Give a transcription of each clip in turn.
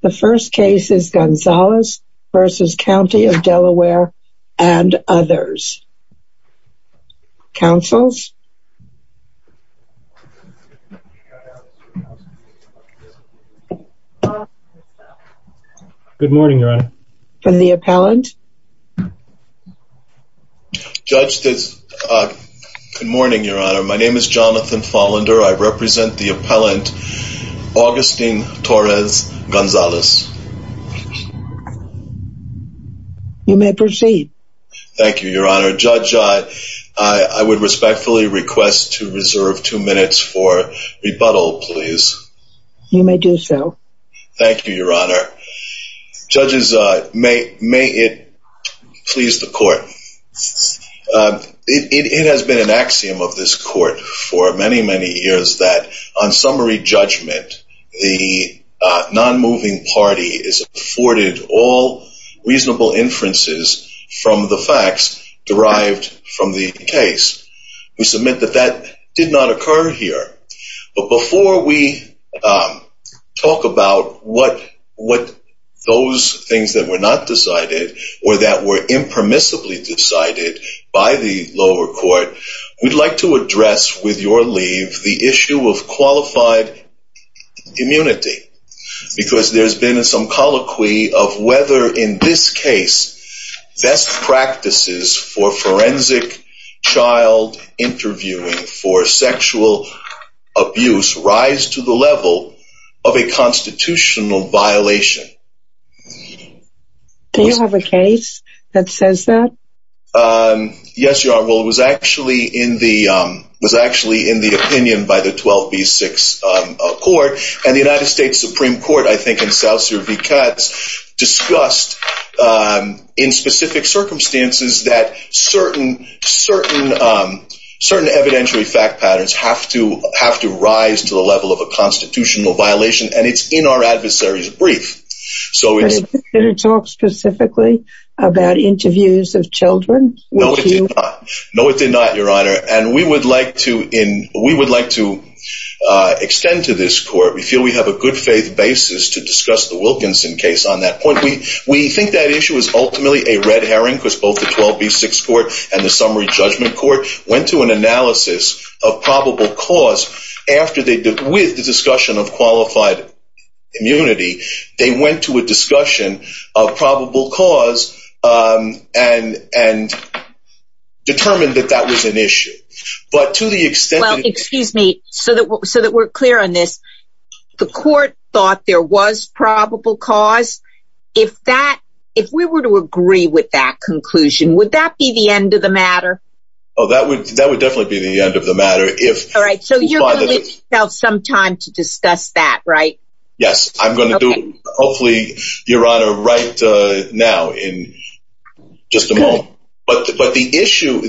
The first case is Gonzales v. County of Delaware and others. Councils? Good morning, Your Honor. From the appellant? Judge, good morning, Your Honor. My name is Jonathan Follender. I represent the appellant, Augustine Torres Gonzales. You may proceed. Thank you, Your Honor. Judge, I would respectfully request to reserve two minutes for rebuttal, please. You may do so. Thank you, Your Honor. Judges, may it please the court. It has been an axiom of this court for many, many years that on summary judgment, the non-moving party is afforded all reasonable inferences from the facts derived from the case. We submit that that did not occur here. But before we talk about what those things that were not decided or that were impermissibly decided by the lower court, we'd like to address with your leave the issue of qualified immunity. Because there's been some colloquy of whether in this case, best practices for forensic child interviewing for sexual abuse rise to the level of a constitutional violation. Do you have a case that says that? Yes, Your Honor. Well, it was actually in the opinion by the 12B6 Court. And the United States Supreme Court, I think in South Sur v. Katz, discussed in specific circumstances that certain evidentiary fact patterns have to rise to the level of a constitutional violation. And it's in our adversary's brief. Did it talk specifically about interviews of children? No, it did not. No, it did not, Your Honor. And we would like to extend to this court, we feel we have a good faith basis to discuss the Wilkinson case on that point. We think that issue is ultimately a red herring because both the 12B6 Court and the summary went to an analysis of probable cause after they did with the discussion of qualified immunity. They went to a discussion of probable cause and determined that that was an issue. But to the extent... Well, excuse me, so that we're clear on this. The court thought there was probable cause. If we were to agree with that conclusion, would that be the end of the matter? Oh, that would definitely be the end of the matter. All right, so you're going to give yourself some time to discuss that, right? Yes, I'm going to do, hopefully, Your Honor, right now in just a moment. But the issue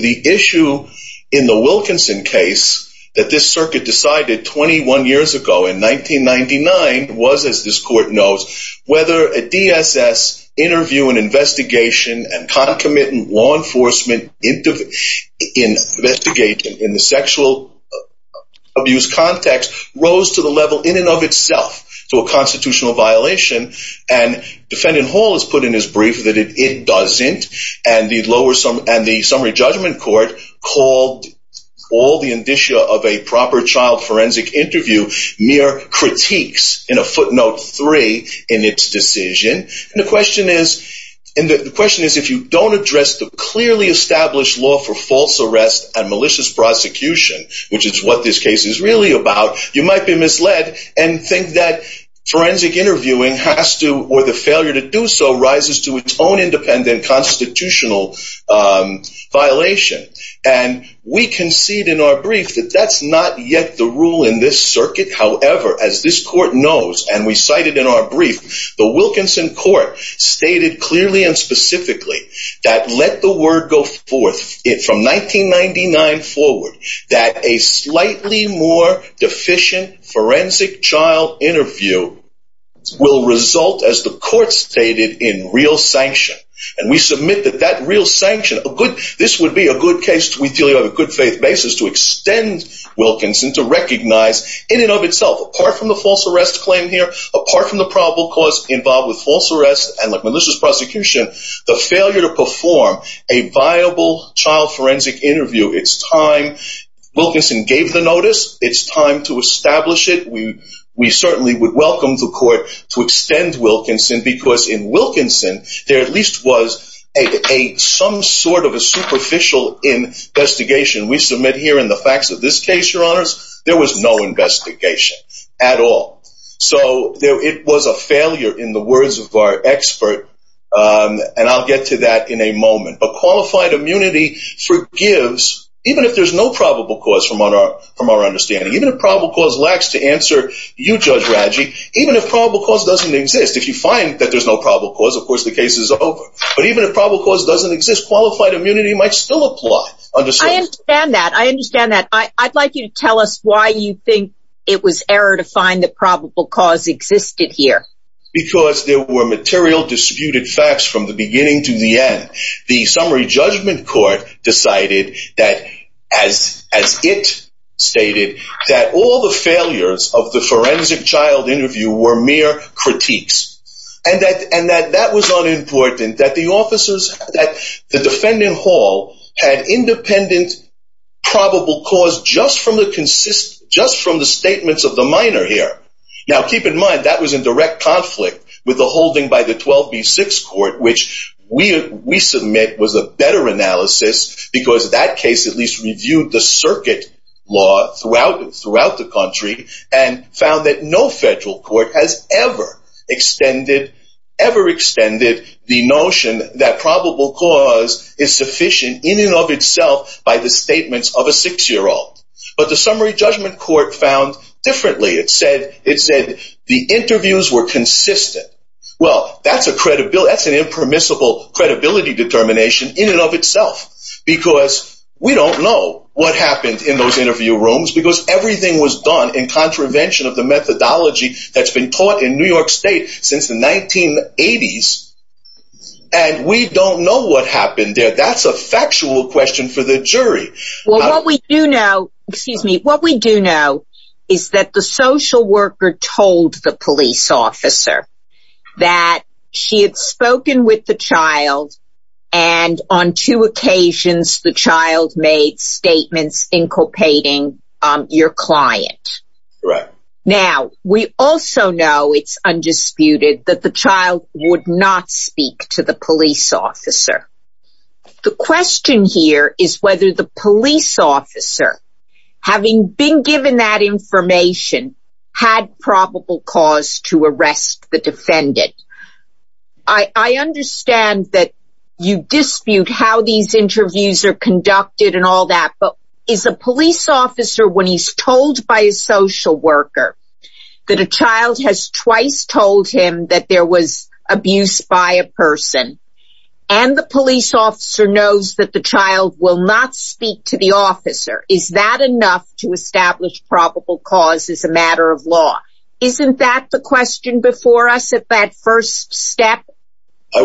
in the Wilkinson case that this circuit decided 21 years ago in 1999 was, as this court knows, whether a DSS interview and investigation and concomitant law enforcement investigation in the sexual abuse context rose to the level in and of itself to a constitutional violation. And Defendant Hall has put in his brief that it doesn't. And the summary judgment court called all the indicia of a proper child forensic interview mere critiques in a footnote three in its decision. And the question is, if you don't address the clearly established law for false arrest and malicious prosecution, which is what this case is really about, you might be misled and think that forensic interviewing has to, or the failure to do so, rises to its own independent constitutional violation. And we concede in our brief that that's not yet the rule in this circuit. However, as this court knows, and we cited in our brief, the Wilkinson court stated clearly and specifically that let the word go forth from 1999 forward that a slightly more deficient forensic child interview will result, as the court stated, in real sanction. And we submit that that real sanction, a good, this would be a good case, we do have a good faith basis to extend Wilkinson to recognize in and of itself, apart from the false arrest claim here, apart from the probable cause involved with false arrest and malicious prosecution, the failure to perform a viable child forensic interview. It's time Wilkinson gave the notice. It's time to establish it. We certainly would welcome the court to extend Wilkinson because in Wilkinson, there are at least was some sort of a superficial investigation. We submit here in the facts of this case, your honors, there was no investigation at all. So it was a failure in the words of our expert, and I'll get to that in a moment. But qualified immunity forgives, even if there's no probable cause from our understanding, even if probable cause lacks to answer you, Judge Raggi, even if probable cause doesn't exist. If you find that there's no probable cause, of course, the case is over. But even if probable cause doesn't exist, qualified immunity might still apply. I understand that. I understand that. I'd like you to tell us why you think it was error to find the probable cause existed here. Because there were material disputed facts from the beginning to the end. The summary judgment court decided that as as it stated that all the failures of the And that was unimportant, that the defendant hall had independent probable cause just from the statements of the minor here. Now, keep in mind, that was in direct conflict with the holding by the 12B6 court, which we submit was a better analysis because that case at least reviewed the circuit law throughout the country and found that no federal court has ever extended the notion that probable cause is sufficient in and of itself by the statements of a six-year-old. But the summary judgment court found differently. It said the interviews were consistent. Well, that's an impermissible credibility determination in and of itself. Because we don't know what happened in those interview rooms because everything was done in contravention of the methodology that's been taught in New York State since the 1980s. And we don't know what happened there. That's a factual question for the jury. Well, what we do know, excuse me, what we do know is that the social worker told the police officer that she had spoken with the child. And on two occasions, the child made statements inculpating your client. Now, we also know it's undisputed that the child would not speak to the police officer. The question here is whether the police officer, having been given that information, had probable cause to arrest the defendant. I understand that you dispute how these interviews are conducted and all that. But is a police officer, when he's told by a social worker that a child has twice told him that there was abuse by a person, and the police officer knows that the child will not speak to the officer, is that enough to establish probable cause as a matter of law? Isn't that the question before us at that first step? I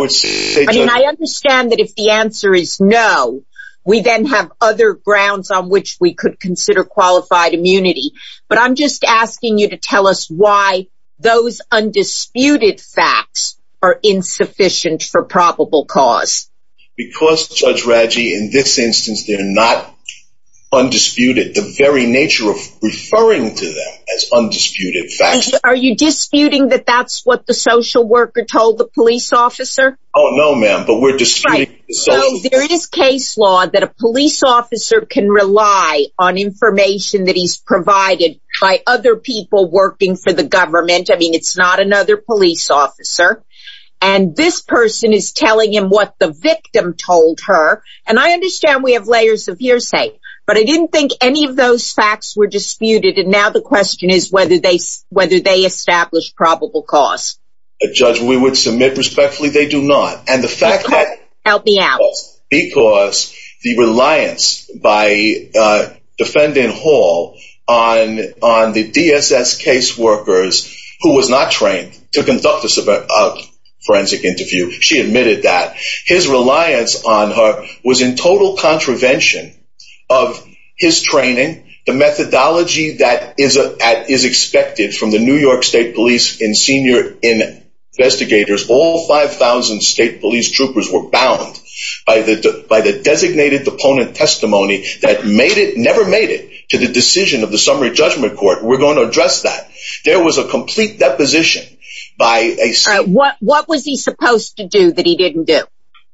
understand that if the answer is no, we then have other grounds on which we could consider qualified immunity. But I'm just asking you to tell us why those undisputed facts are insufficient for probable cause. Because, Judge Raggi, in this instance, they're not undisputed. The very nature of referring to them as undisputed facts... Are you disputing that that's what the social worker told the police officer? Oh, no, ma'am. But we're disputing... So, there is case law that a police officer can rely on information that he's provided by other people working for the government. I mean, it's not another police officer. And this person is telling him what the victim told her. And I understand we have layers of hearsay. But I didn't think any of those facts were disputed. And now the question is whether they establish probable cause. Judge, we would submit respectfully they do not. And the fact that... Help me out. Because the reliance by Defendant Hall on the DSS case workers, who was not trained to conduct a forensic interview, she admitted that, his reliance on her was in total contravention of his training, the methodology that is expected from the New York State Police and senior investigators. All 5,000 state police troopers were bound by the designated opponent testimony that never made it to the decision of the summary judgment court. We're going to address that. There was a complete deposition by a... What was he supposed to do that he didn't do?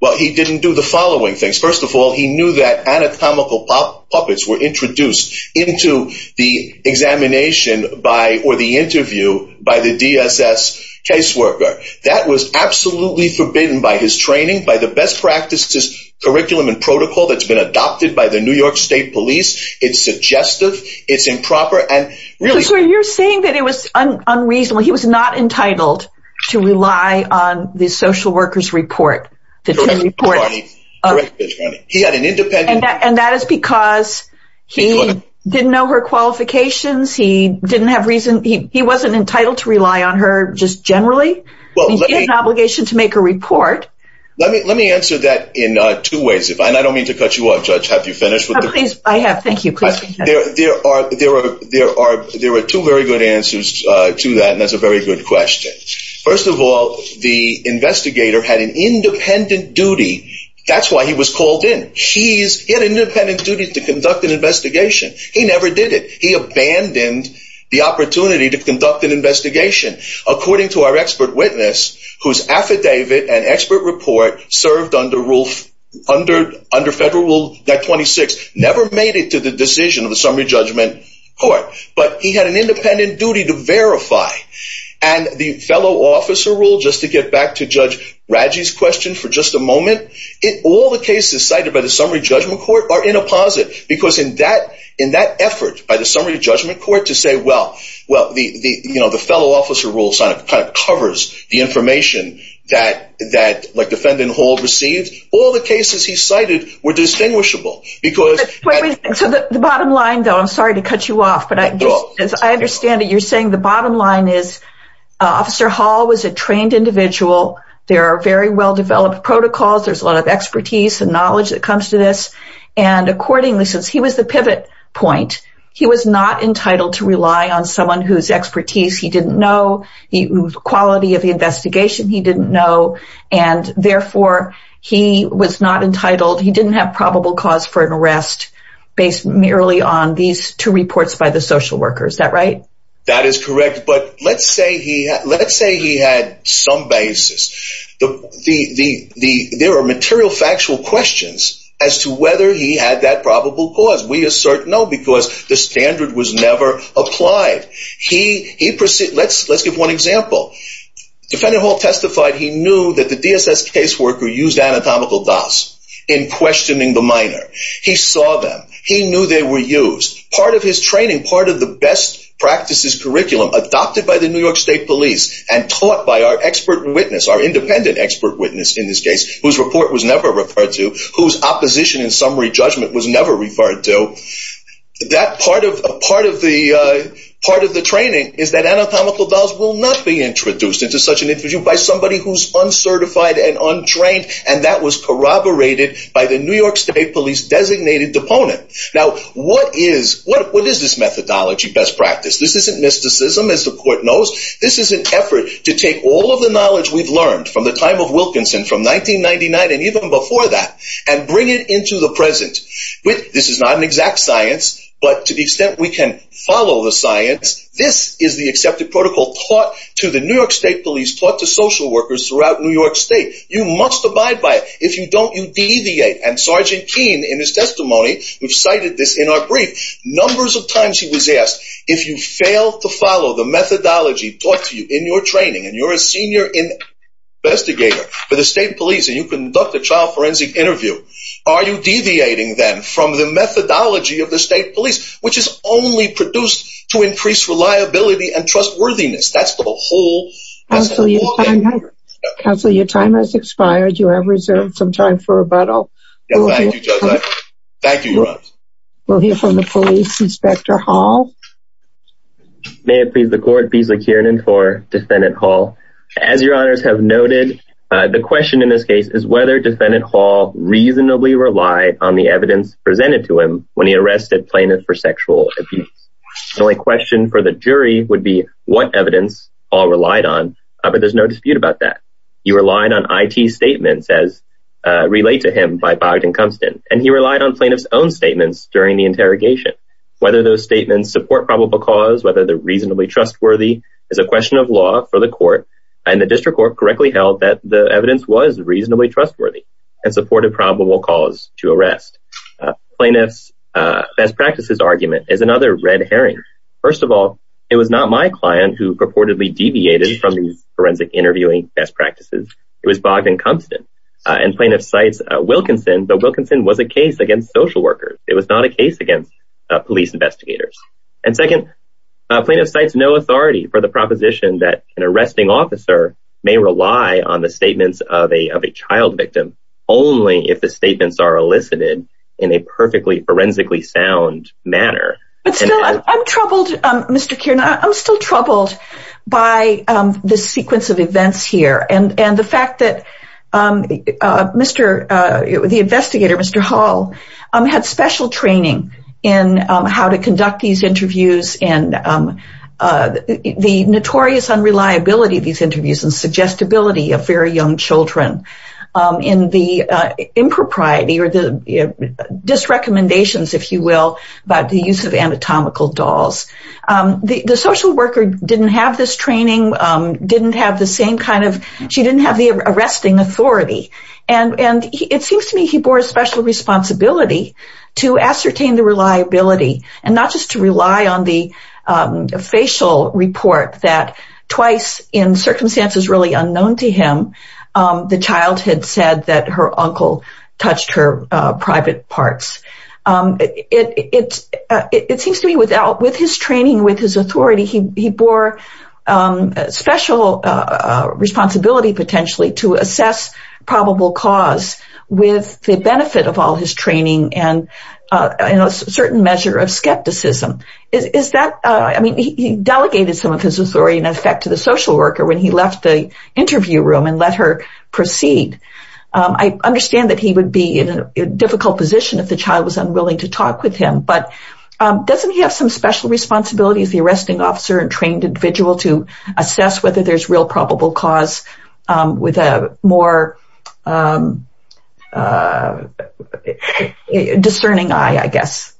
Well, he didn't do the following things. First of all, he knew that anatomical puppets were introduced into the examination or the interview by the DSS case worker. That was absolutely forbidden by his training, by the best practices curriculum and protocol that's been adopted by the New York State Police. It's suggestive. It's improper. You're saying that it was unreasonable. He was not entitled to rely on the social workers report. Correct. He had an independent... And that is because he didn't know her qualifications. He wasn't entitled to rely on her just generally. He had an obligation to make a report. Let me answer that in two ways. And I don't mean to cut you off, Judge. Have you finished? I have. Thank you. There are two very good answers to that, and that's a very good question. First of all, the investigator had an independent duty. That's why he was called in. He had an independent duty to conduct an investigation. He never did it. He abandoned the opportunity to conduct an investigation. According to our expert witness, whose affidavit and expert report served under Federal Rule 26, never made it to the decision of the Summary Judgment Court. But he had an independent duty to verify. And the fellow officer rule, just to get back to Judge Radji's question for just a moment, all the cases cited by the Summary Judgment Court are in a posit. Because in that effort by the Summary Judgment Court to say, well, the fellow officer rule covers the information that defendant Hall received, all the cases he cited were distinguishable. The bottom line, though, I'm sorry to cut you off, but I understand that you're saying the bottom line is Officer Hall was a trained individual. There are very well-developed protocols. There's a lot of expertise and knowledge that comes to this. And accordingly, since he was the pivot point, he was not entitled to rely on someone whose expertise he didn't know, the quality of the investigation he didn't know. And therefore, he was not entitled. He didn't have probable cause for an arrest based merely on these two reports by the social workers. Is that right? That is correct. But let's say he had some basis. There are material factual questions as to whether he had that probable cause. We assert no, because the standard was never applied. Let's give one example. Defendant Hall testified he knew that the DSS caseworker used anatomical dots in questioning the minor. He saw them. He knew they were used. Part of his training, part of the best practices curriculum adopted by the New York State Police and taught by our expert witness, our independent expert witness in this case, whose report was never referred to, whose opposition in summary judgment was never referred to, that part of the training is that anatomical dots will not be introduced into such an interview by somebody who's uncertified and untrained. And that was corroborated by the New York State Police designated opponent. Now, what is this methodology best practice? This isn't mysticism, as the court knows. This is an effort to take all of the knowledge we've learned from the time of Wilkinson, from 1999 and even before that, and bring it into the present. This is not an exact science, but to the extent we can follow the science, this is the accepted protocol taught to the New York State Police, taught to social workers throughout New York State. You must abide by it. If you don't, you deviate. And Sergeant Keene, in his testimony, who cited this in our brief, numbers of times he was asked, if you fail to follow the methodology taught to you in your training and you're a senior investigator for the state police and you conduct a child forensic interview, are you deviating then from the methodology of the state police, which is only produced to increase reliability and trustworthiness? That's the whole thing. Counsel, your time has expired. You have reserved some time for rebuttal. Thank you, Judge. Thank you, Your Honor. We'll hear from the police. Inspector Hall. May it please the court, Beasley Kiernan for Defendant Hall. As Your Honors have noted, the question in this case is whether Defendant Hall reasonably relied on the evidence presented to him when he arrested plaintiff for sexual abuse. The only question for the jury would be what evidence Hall relied on, but there's no dispute about that. He relied on I.T. statements as relayed to him by Bogdan Kumpstead, and he relied on plaintiff's own statements during the interrogation. Whether those statements support probable cause, whether they're reasonably trustworthy is a question of law for the court, and the district court correctly held that the evidence was reasonably trustworthy and supported probable cause to arrest. Plaintiff's best practices argument is another red herring. First of all, it was not my client who purportedly deviated from these forensic interviewing best practices. It was Bogdan Kumpstead, and plaintiff cites Wilkinson, but Wilkinson was a case against social workers. It was not a case against police investigators. And second, plaintiff cites no authority for the proposition that an arresting officer may rely on the statements of a child victim only if the statements are elicited in a perfectly, forensically sound manner. But still, I'm troubled, Mr. Kiernan, I'm still troubled by the sequence of events here and the fact that the investigator, Mr. Hall, had special training in how to conduct these interviews and the notorious unreliability of these interviews and suggestibility of very young children. In the impropriety or the disrecommendations, if you will, about the use of anatomical dolls, the social worker didn't have this training, didn't have the same kind of, she didn't have the arresting authority. And it seems to me he bore a special responsibility to ascertain the reliability and not just to rely on the facial report that twice in circumstances really unknown to him, the child had said that her uncle touched her private parts. It seems to me with his training, with his authority, he bore special responsibility potentially to assess probable cause with the benefit of all his training and a certain measure of skepticism. Is that, I mean, he delegated some of his authority in effect to the social worker when he left the interview room and let her proceed. I understand that he would be in a difficult position if the child was unwilling to talk with him, but doesn't he have some special responsibility as the arresting officer and trained individual to assess whether there's real probable cause with a more discerning eye, I guess?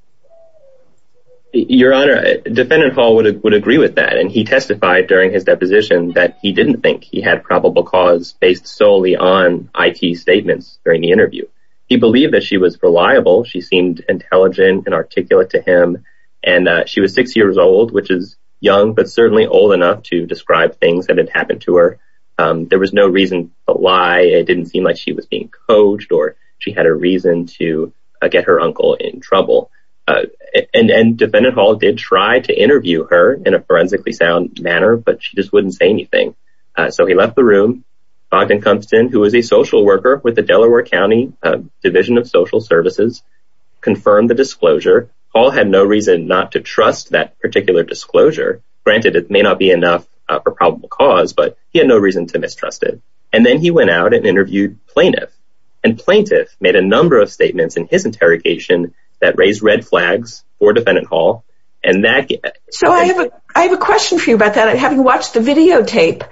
Your Honor, defendant Hall would agree with that. And he testified during his deposition that he didn't think he had probable cause based solely on I.T. statements during the interview. He believed that she was reliable. She seemed intelligent and articulate to him. And she was six years old, which is young, but certainly old enough to describe things that had happened to her. There was no reason why it didn't seem like she was being coached or she had a reason to get her uncle in trouble. And then defendant Hall did try to interview her in a forensically sound manner. But she just wouldn't say anything. So he left the room. who is a social worker with the Delaware County Division of Social Services confirmed the disclosure. Hall had no reason not to trust that particular disclosure. Granted, it may not be enough for probable cause, but he had no reason to mistrust it. And then he went out and interviewed plaintiff and plaintiff made a number of statements in his interrogation that raised red flags for defendant Hall. So I have a question for you about that. Having watched the videotape,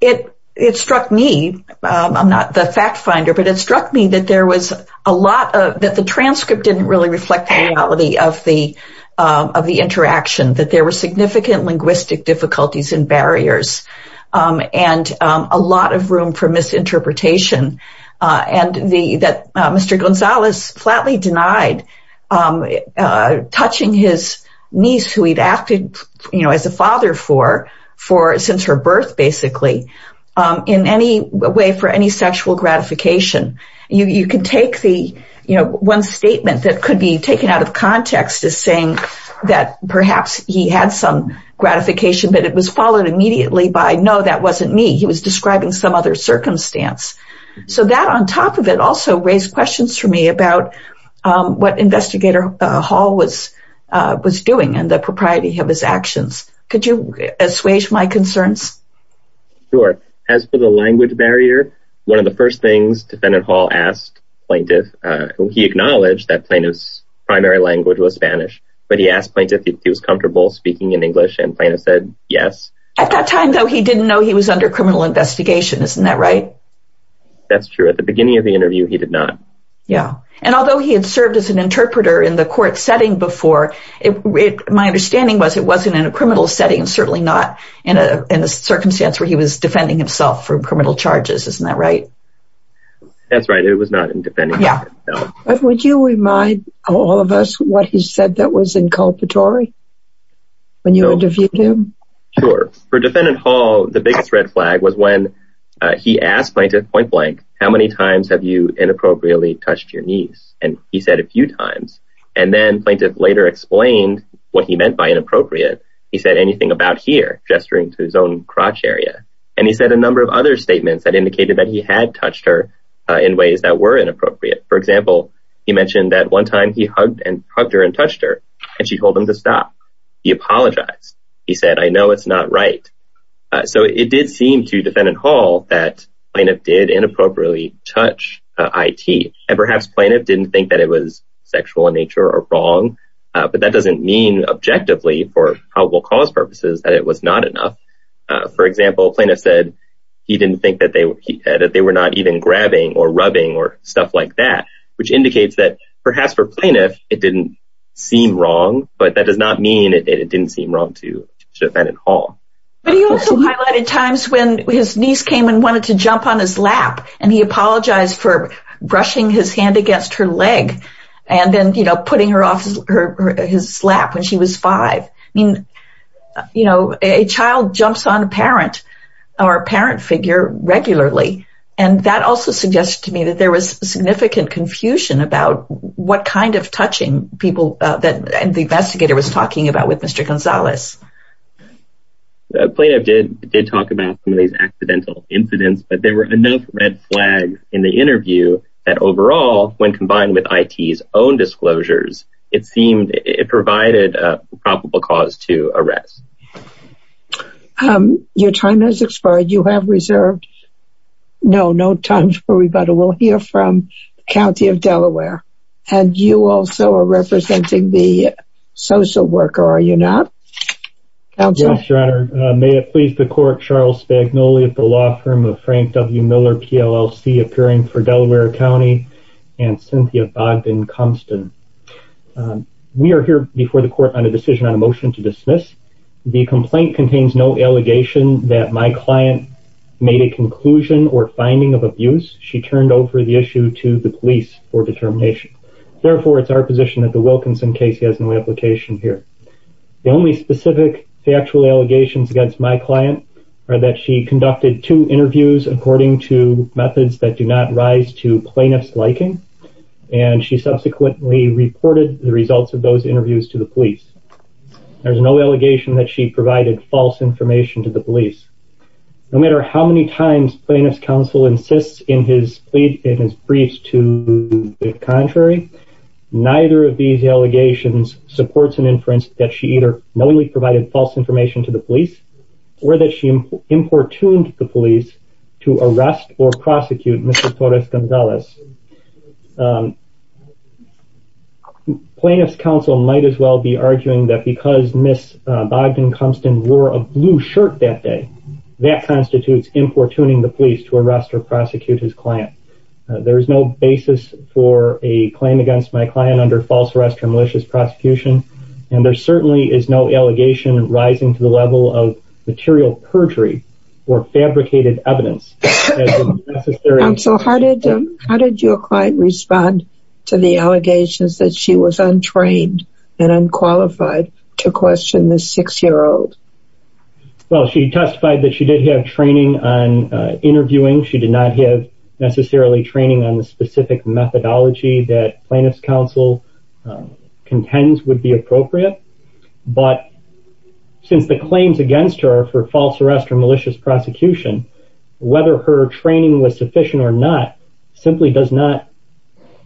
it struck me. I'm not the fact finder, but it struck me that there was a lot of that. The transcript didn't really reflect the reality of the of the interaction, that there were significant linguistic difficulties and barriers and a lot of room for misinterpretation. And that Mr. Gonzalez flatly denied touching his niece who he'd acted as a father for since her birth, basically, in any way for any sexual gratification. You can take the one statement that could be taken out of context is saying that perhaps he had some gratification, but it was followed immediately by no, that wasn't me. He was describing some other circumstance. So that on top of it also raised questions for me about what investigator Hall was was doing and the propriety of his actions. Could you assuage my concerns? Sure. As for the language barrier, one of the first things defendant Hall asked plaintiff, he acknowledged that plaintiff's primary language was Spanish, but he asked plaintiff if he was comfortable speaking in English and plaintiff said yes. At that time, though, he didn't know he was under criminal investigation. Isn't that right? That's true. At the beginning of the interview, he did not. Yeah. And although he had served as an interpreter in the court setting before it, my understanding was it wasn't in a criminal setting and certainly not in a circumstance where he was defending himself for criminal charges. Isn't that right? That's right. It was not in defending. Yeah. Would you remind all of us what he said that was inculpatory when you interviewed him? Sure. For defendant Hall, the biggest red flag was when he asked plaintiff point blank, how many times have you inappropriately touched your knees? And he said a few times. And then plaintiff later explained what he meant by inappropriate. He said anything about here, gesturing to his own crotch area. And he said a number of other statements that indicated that he had touched her in ways that were inappropriate. For example, he mentioned that one time he hugged and hugged her and touched her and she told him to stop. He apologized. He said, I know it's not right. So it did seem to defendant Hall that plaintiff did inappropriately touch IT. And perhaps plaintiff didn't think that it was sexual in nature or wrong, but that doesn't mean objectively for probable cause purposes that it was not enough. For example, plaintiff said he didn't think that they were not even grabbing or rubbing or stuff like that, which indicates that perhaps for plaintiff it didn't seem wrong. But that does not mean it didn't seem wrong to defendant Hall. But he also highlighted times when his niece came and wanted to jump on his lap and he apologized for brushing his hand against her leg and then, you know, putting her off his lap when she was five. You know, a child jumps on a parent or a parent figure regularly. And that also suggests to me that there was significant confusion about what kind of touching people that the investigator was talking about with Mr. Gonzalez. Plaintiff did talk about some of these accidental incidents, but there were enough red flags in the interview that overall, when combined with IT's own disclosures, it seemed it provided a probable cause to arrest. Your time has expired. You have reserved. No, no time for rebuttal. We'll hear from County of Delaware. And you also are representing the social worker, are you not? Yes, Your Honor. May it please the court, Charles Spagnoli of the law firm of Frank W. Miller, PLLC, appearing for Delaware County and Cynthia Bogdan-Cumston. We are here before the court on a decision on a motion to dismiss. The complaint contains no allegation that my client made a conclusion or finding of abuse. She turned over the issue to the police for determination. Therefore, it's our position that the Wilkinson case has no application here. The only specific factual allegations against my client are that she conducted two interviews, according to methods that do not rise to plaintiff's liking. And she subsequently reported the results of those interviews to the police. There's no allegation that she provided false information to the police. No matter how many times plaintiff's counsel insists in his briefs to the contrary, neither of these allegations supports an inference that she either knowingly provided false information to the police, or that she importuned the police to arrest or prosecute Mr. Torres-Gonzalez. Plaintiff's counsel might as well be arguing that because Ms. Bogdan-Cumston wore a blue shirt that day, that constitutes importuning the police to arrest or prosecute his client. There is no basis for a claim against my client under false arrest or malicious prosecution. And there certainly is no allegation rising to the level of material perjury or fabricated evidence. Counsel, how did your client respond to the allegations that she was untrained and unqualified to question this six-year-old? Well, she testified that she did have training on interviewing. She did not have necessarily training on the specific methodology that plaintiff's counsel contends would be appropriate. But since the claims against her for false arrest or malicious prosecution, whether her training was sufficient or not simply does not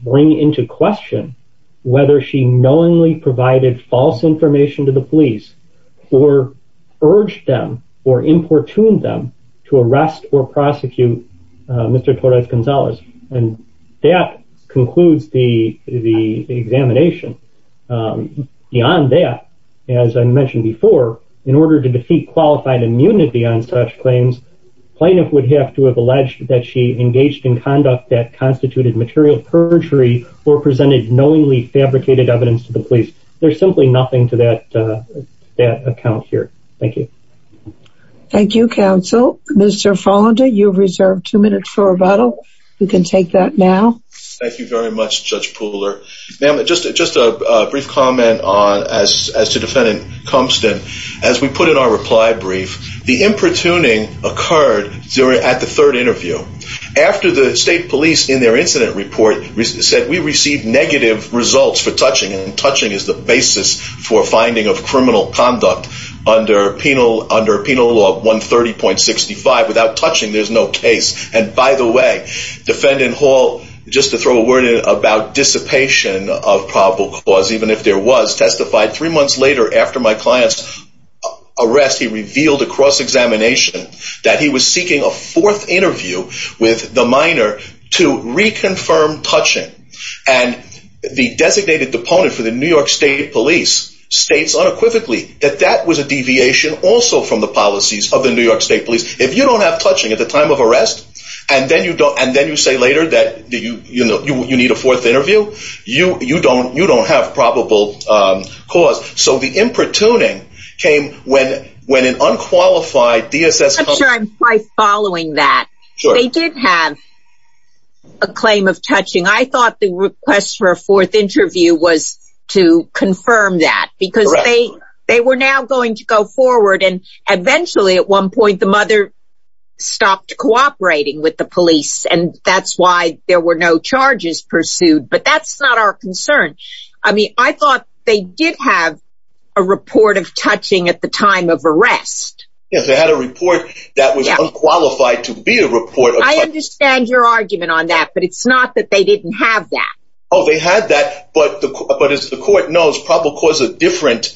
bring into question whether she knowingly provided false information to the police, or urged them or importuned them to arrest or prosecute Mr. Torres-Gonzalez. And that concludes the examination. Beyond that, as I mentioned before, in order to defeat qualified immunity on such claims, plaintiff would have to have alleged that she engaged in conduct that constituted material perjury or presented knowingly fabricated evidence to the police. There's simply nothing to that account here. Thank you. Thank you, counsel. Mr. Follender, you have reserved two minutes for rebuttal. You can take that now. Thank you very much, Judge Pooler. Ma'am, just a brief comment as to Defendant Compton. As we put in our reply brief, the importuning occurred at the third interview. After the state police, in their incident report, said we received negative results for touching, and touching is the basis for finding of criminal conduct under Penal Law 130.65. Without touching, there's no case. And by the way, Defendant Hall, just to throw a word in about dissipation of probable cause, even if there was, testified three months later after my client's arrest, he revealed across examination that he was seeking a fourth interview with the minor to reconfirm touching. And the designated opponent for the New York State Police states unequivocally that that was a deviation also from the policies of the New York State Police. If you don't have touching at the time of arrest, and then you say later that you need a fourth interview, you don't have probable cause. So the importuning came when an unqualified DSS... I'm sure I'm quite following that. They did have a claim of touching. I thought the request for a fourth interview was to confirm that. Correct. Because they were now going to go forward, and eventually, at one point, the mother stopped cooperating with the police, and that's why there were no charges pursued. But that's not our concern. I mean, I thought they did have a report of touching at the time of arrest. Yes, they had a report that was unqualified to be a report of touching. I understand your argument on that, but it's not that they didn't have that. Oh, they had that, but as the court knows, probable cause is a different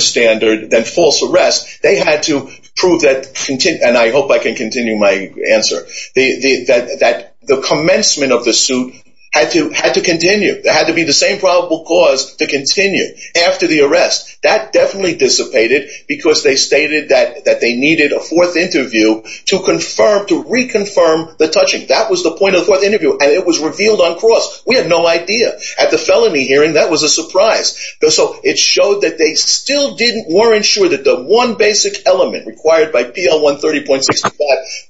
standard than false arrest. They had to prove that, and I hope I can continue my answer, that the commencement of the suit had to continue. There had to be the same probable cause to continue after the arrest. That definitely dissipated because they stated that they needed a fourth interview to confirm, to reconfirm the touching. That was the point of the fourth interview, and it was revealed on cross. We had no idea. At the felony hearing, that was a surprise. So it showed that they still weren't sure that the one basic element required by PL130.65,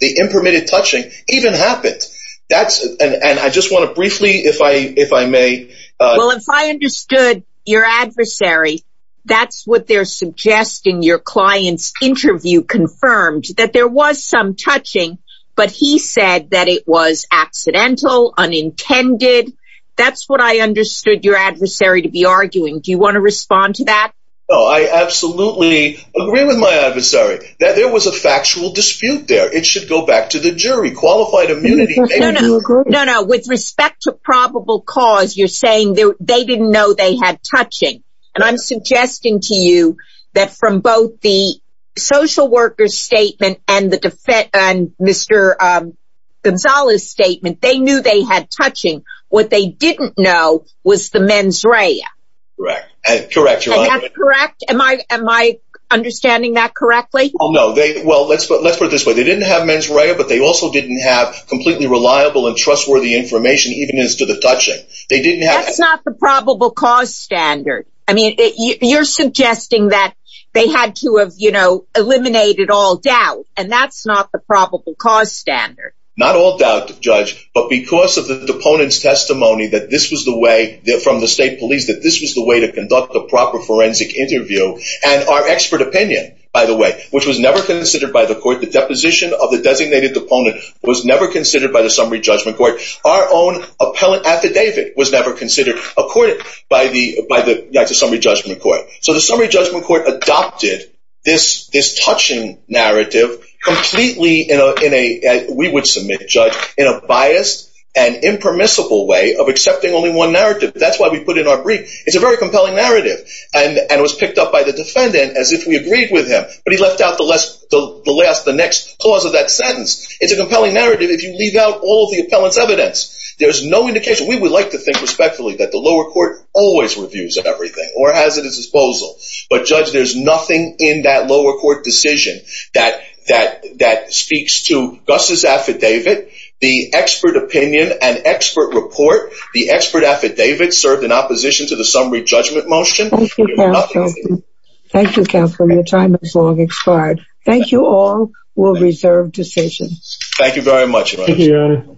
the impermitted touching, even happened. And I just want to briefly, if I may... That's what they're suggesting your client's interview confirmed, that there was some touching, but he said that it was accidental, unintended. That's what I understood your adversary to be arguing. Do you want to respond to that? No, I absolutely agree with my adversary. There was a factual dispute there. It should go back to the jury, qualified immunity. No, no, with respect to probable cause, you're saying they didn't know they had touching. And I'm suggesting to you that from both the social worker's statement and Mr. Gonzales' statement, they knew they had touching. What they didn't know was the mens rea. Correct. Am I understanding that correctly? Oh, no. Well, let's put it this way. They didn't have mens rea, but they also didn't have completely reliable and trustworthy information, even as to the touching. That's not the probable cause standard. I mean, you're suggesting that they had to have eliminated all doubt, and that's not the probable cause standard. Not all doubt, Judge, but because of the deponent's testimony from the state police that this was the way to conduct a proper forensic interview, and our expert opinion, by the way, which was never considered by the court. The deposition of the designated deponent was never considered by the summary judgment court. Our own appellate affidavit was never considered by the summary judgment court. So the summary judgment court adopted this touching narrative completely, we would submit, Judge, in a biased and impermissible way of accepting only one narrative. That's why we put in our brief. It's a very compelling narrative, and it was picked up by the defendant as if we agreed with him, but he left out the next clause of that sentence. It's a compelling narrative if you leave out all of the appellant's evidence. There's no indication. We would like to think respectfully that the lower court always reviews everything or has at its disposal, but, Judge, there's nothing in that lower court decision that speaks to Gus's affidavit, the expert opinion, an expert report, the expert affidavit served in opposition to the summary judgment motion. Your time has long expired. Thank you all. We'll reserve decisions. Thank you very much. Thank you, Your Honor.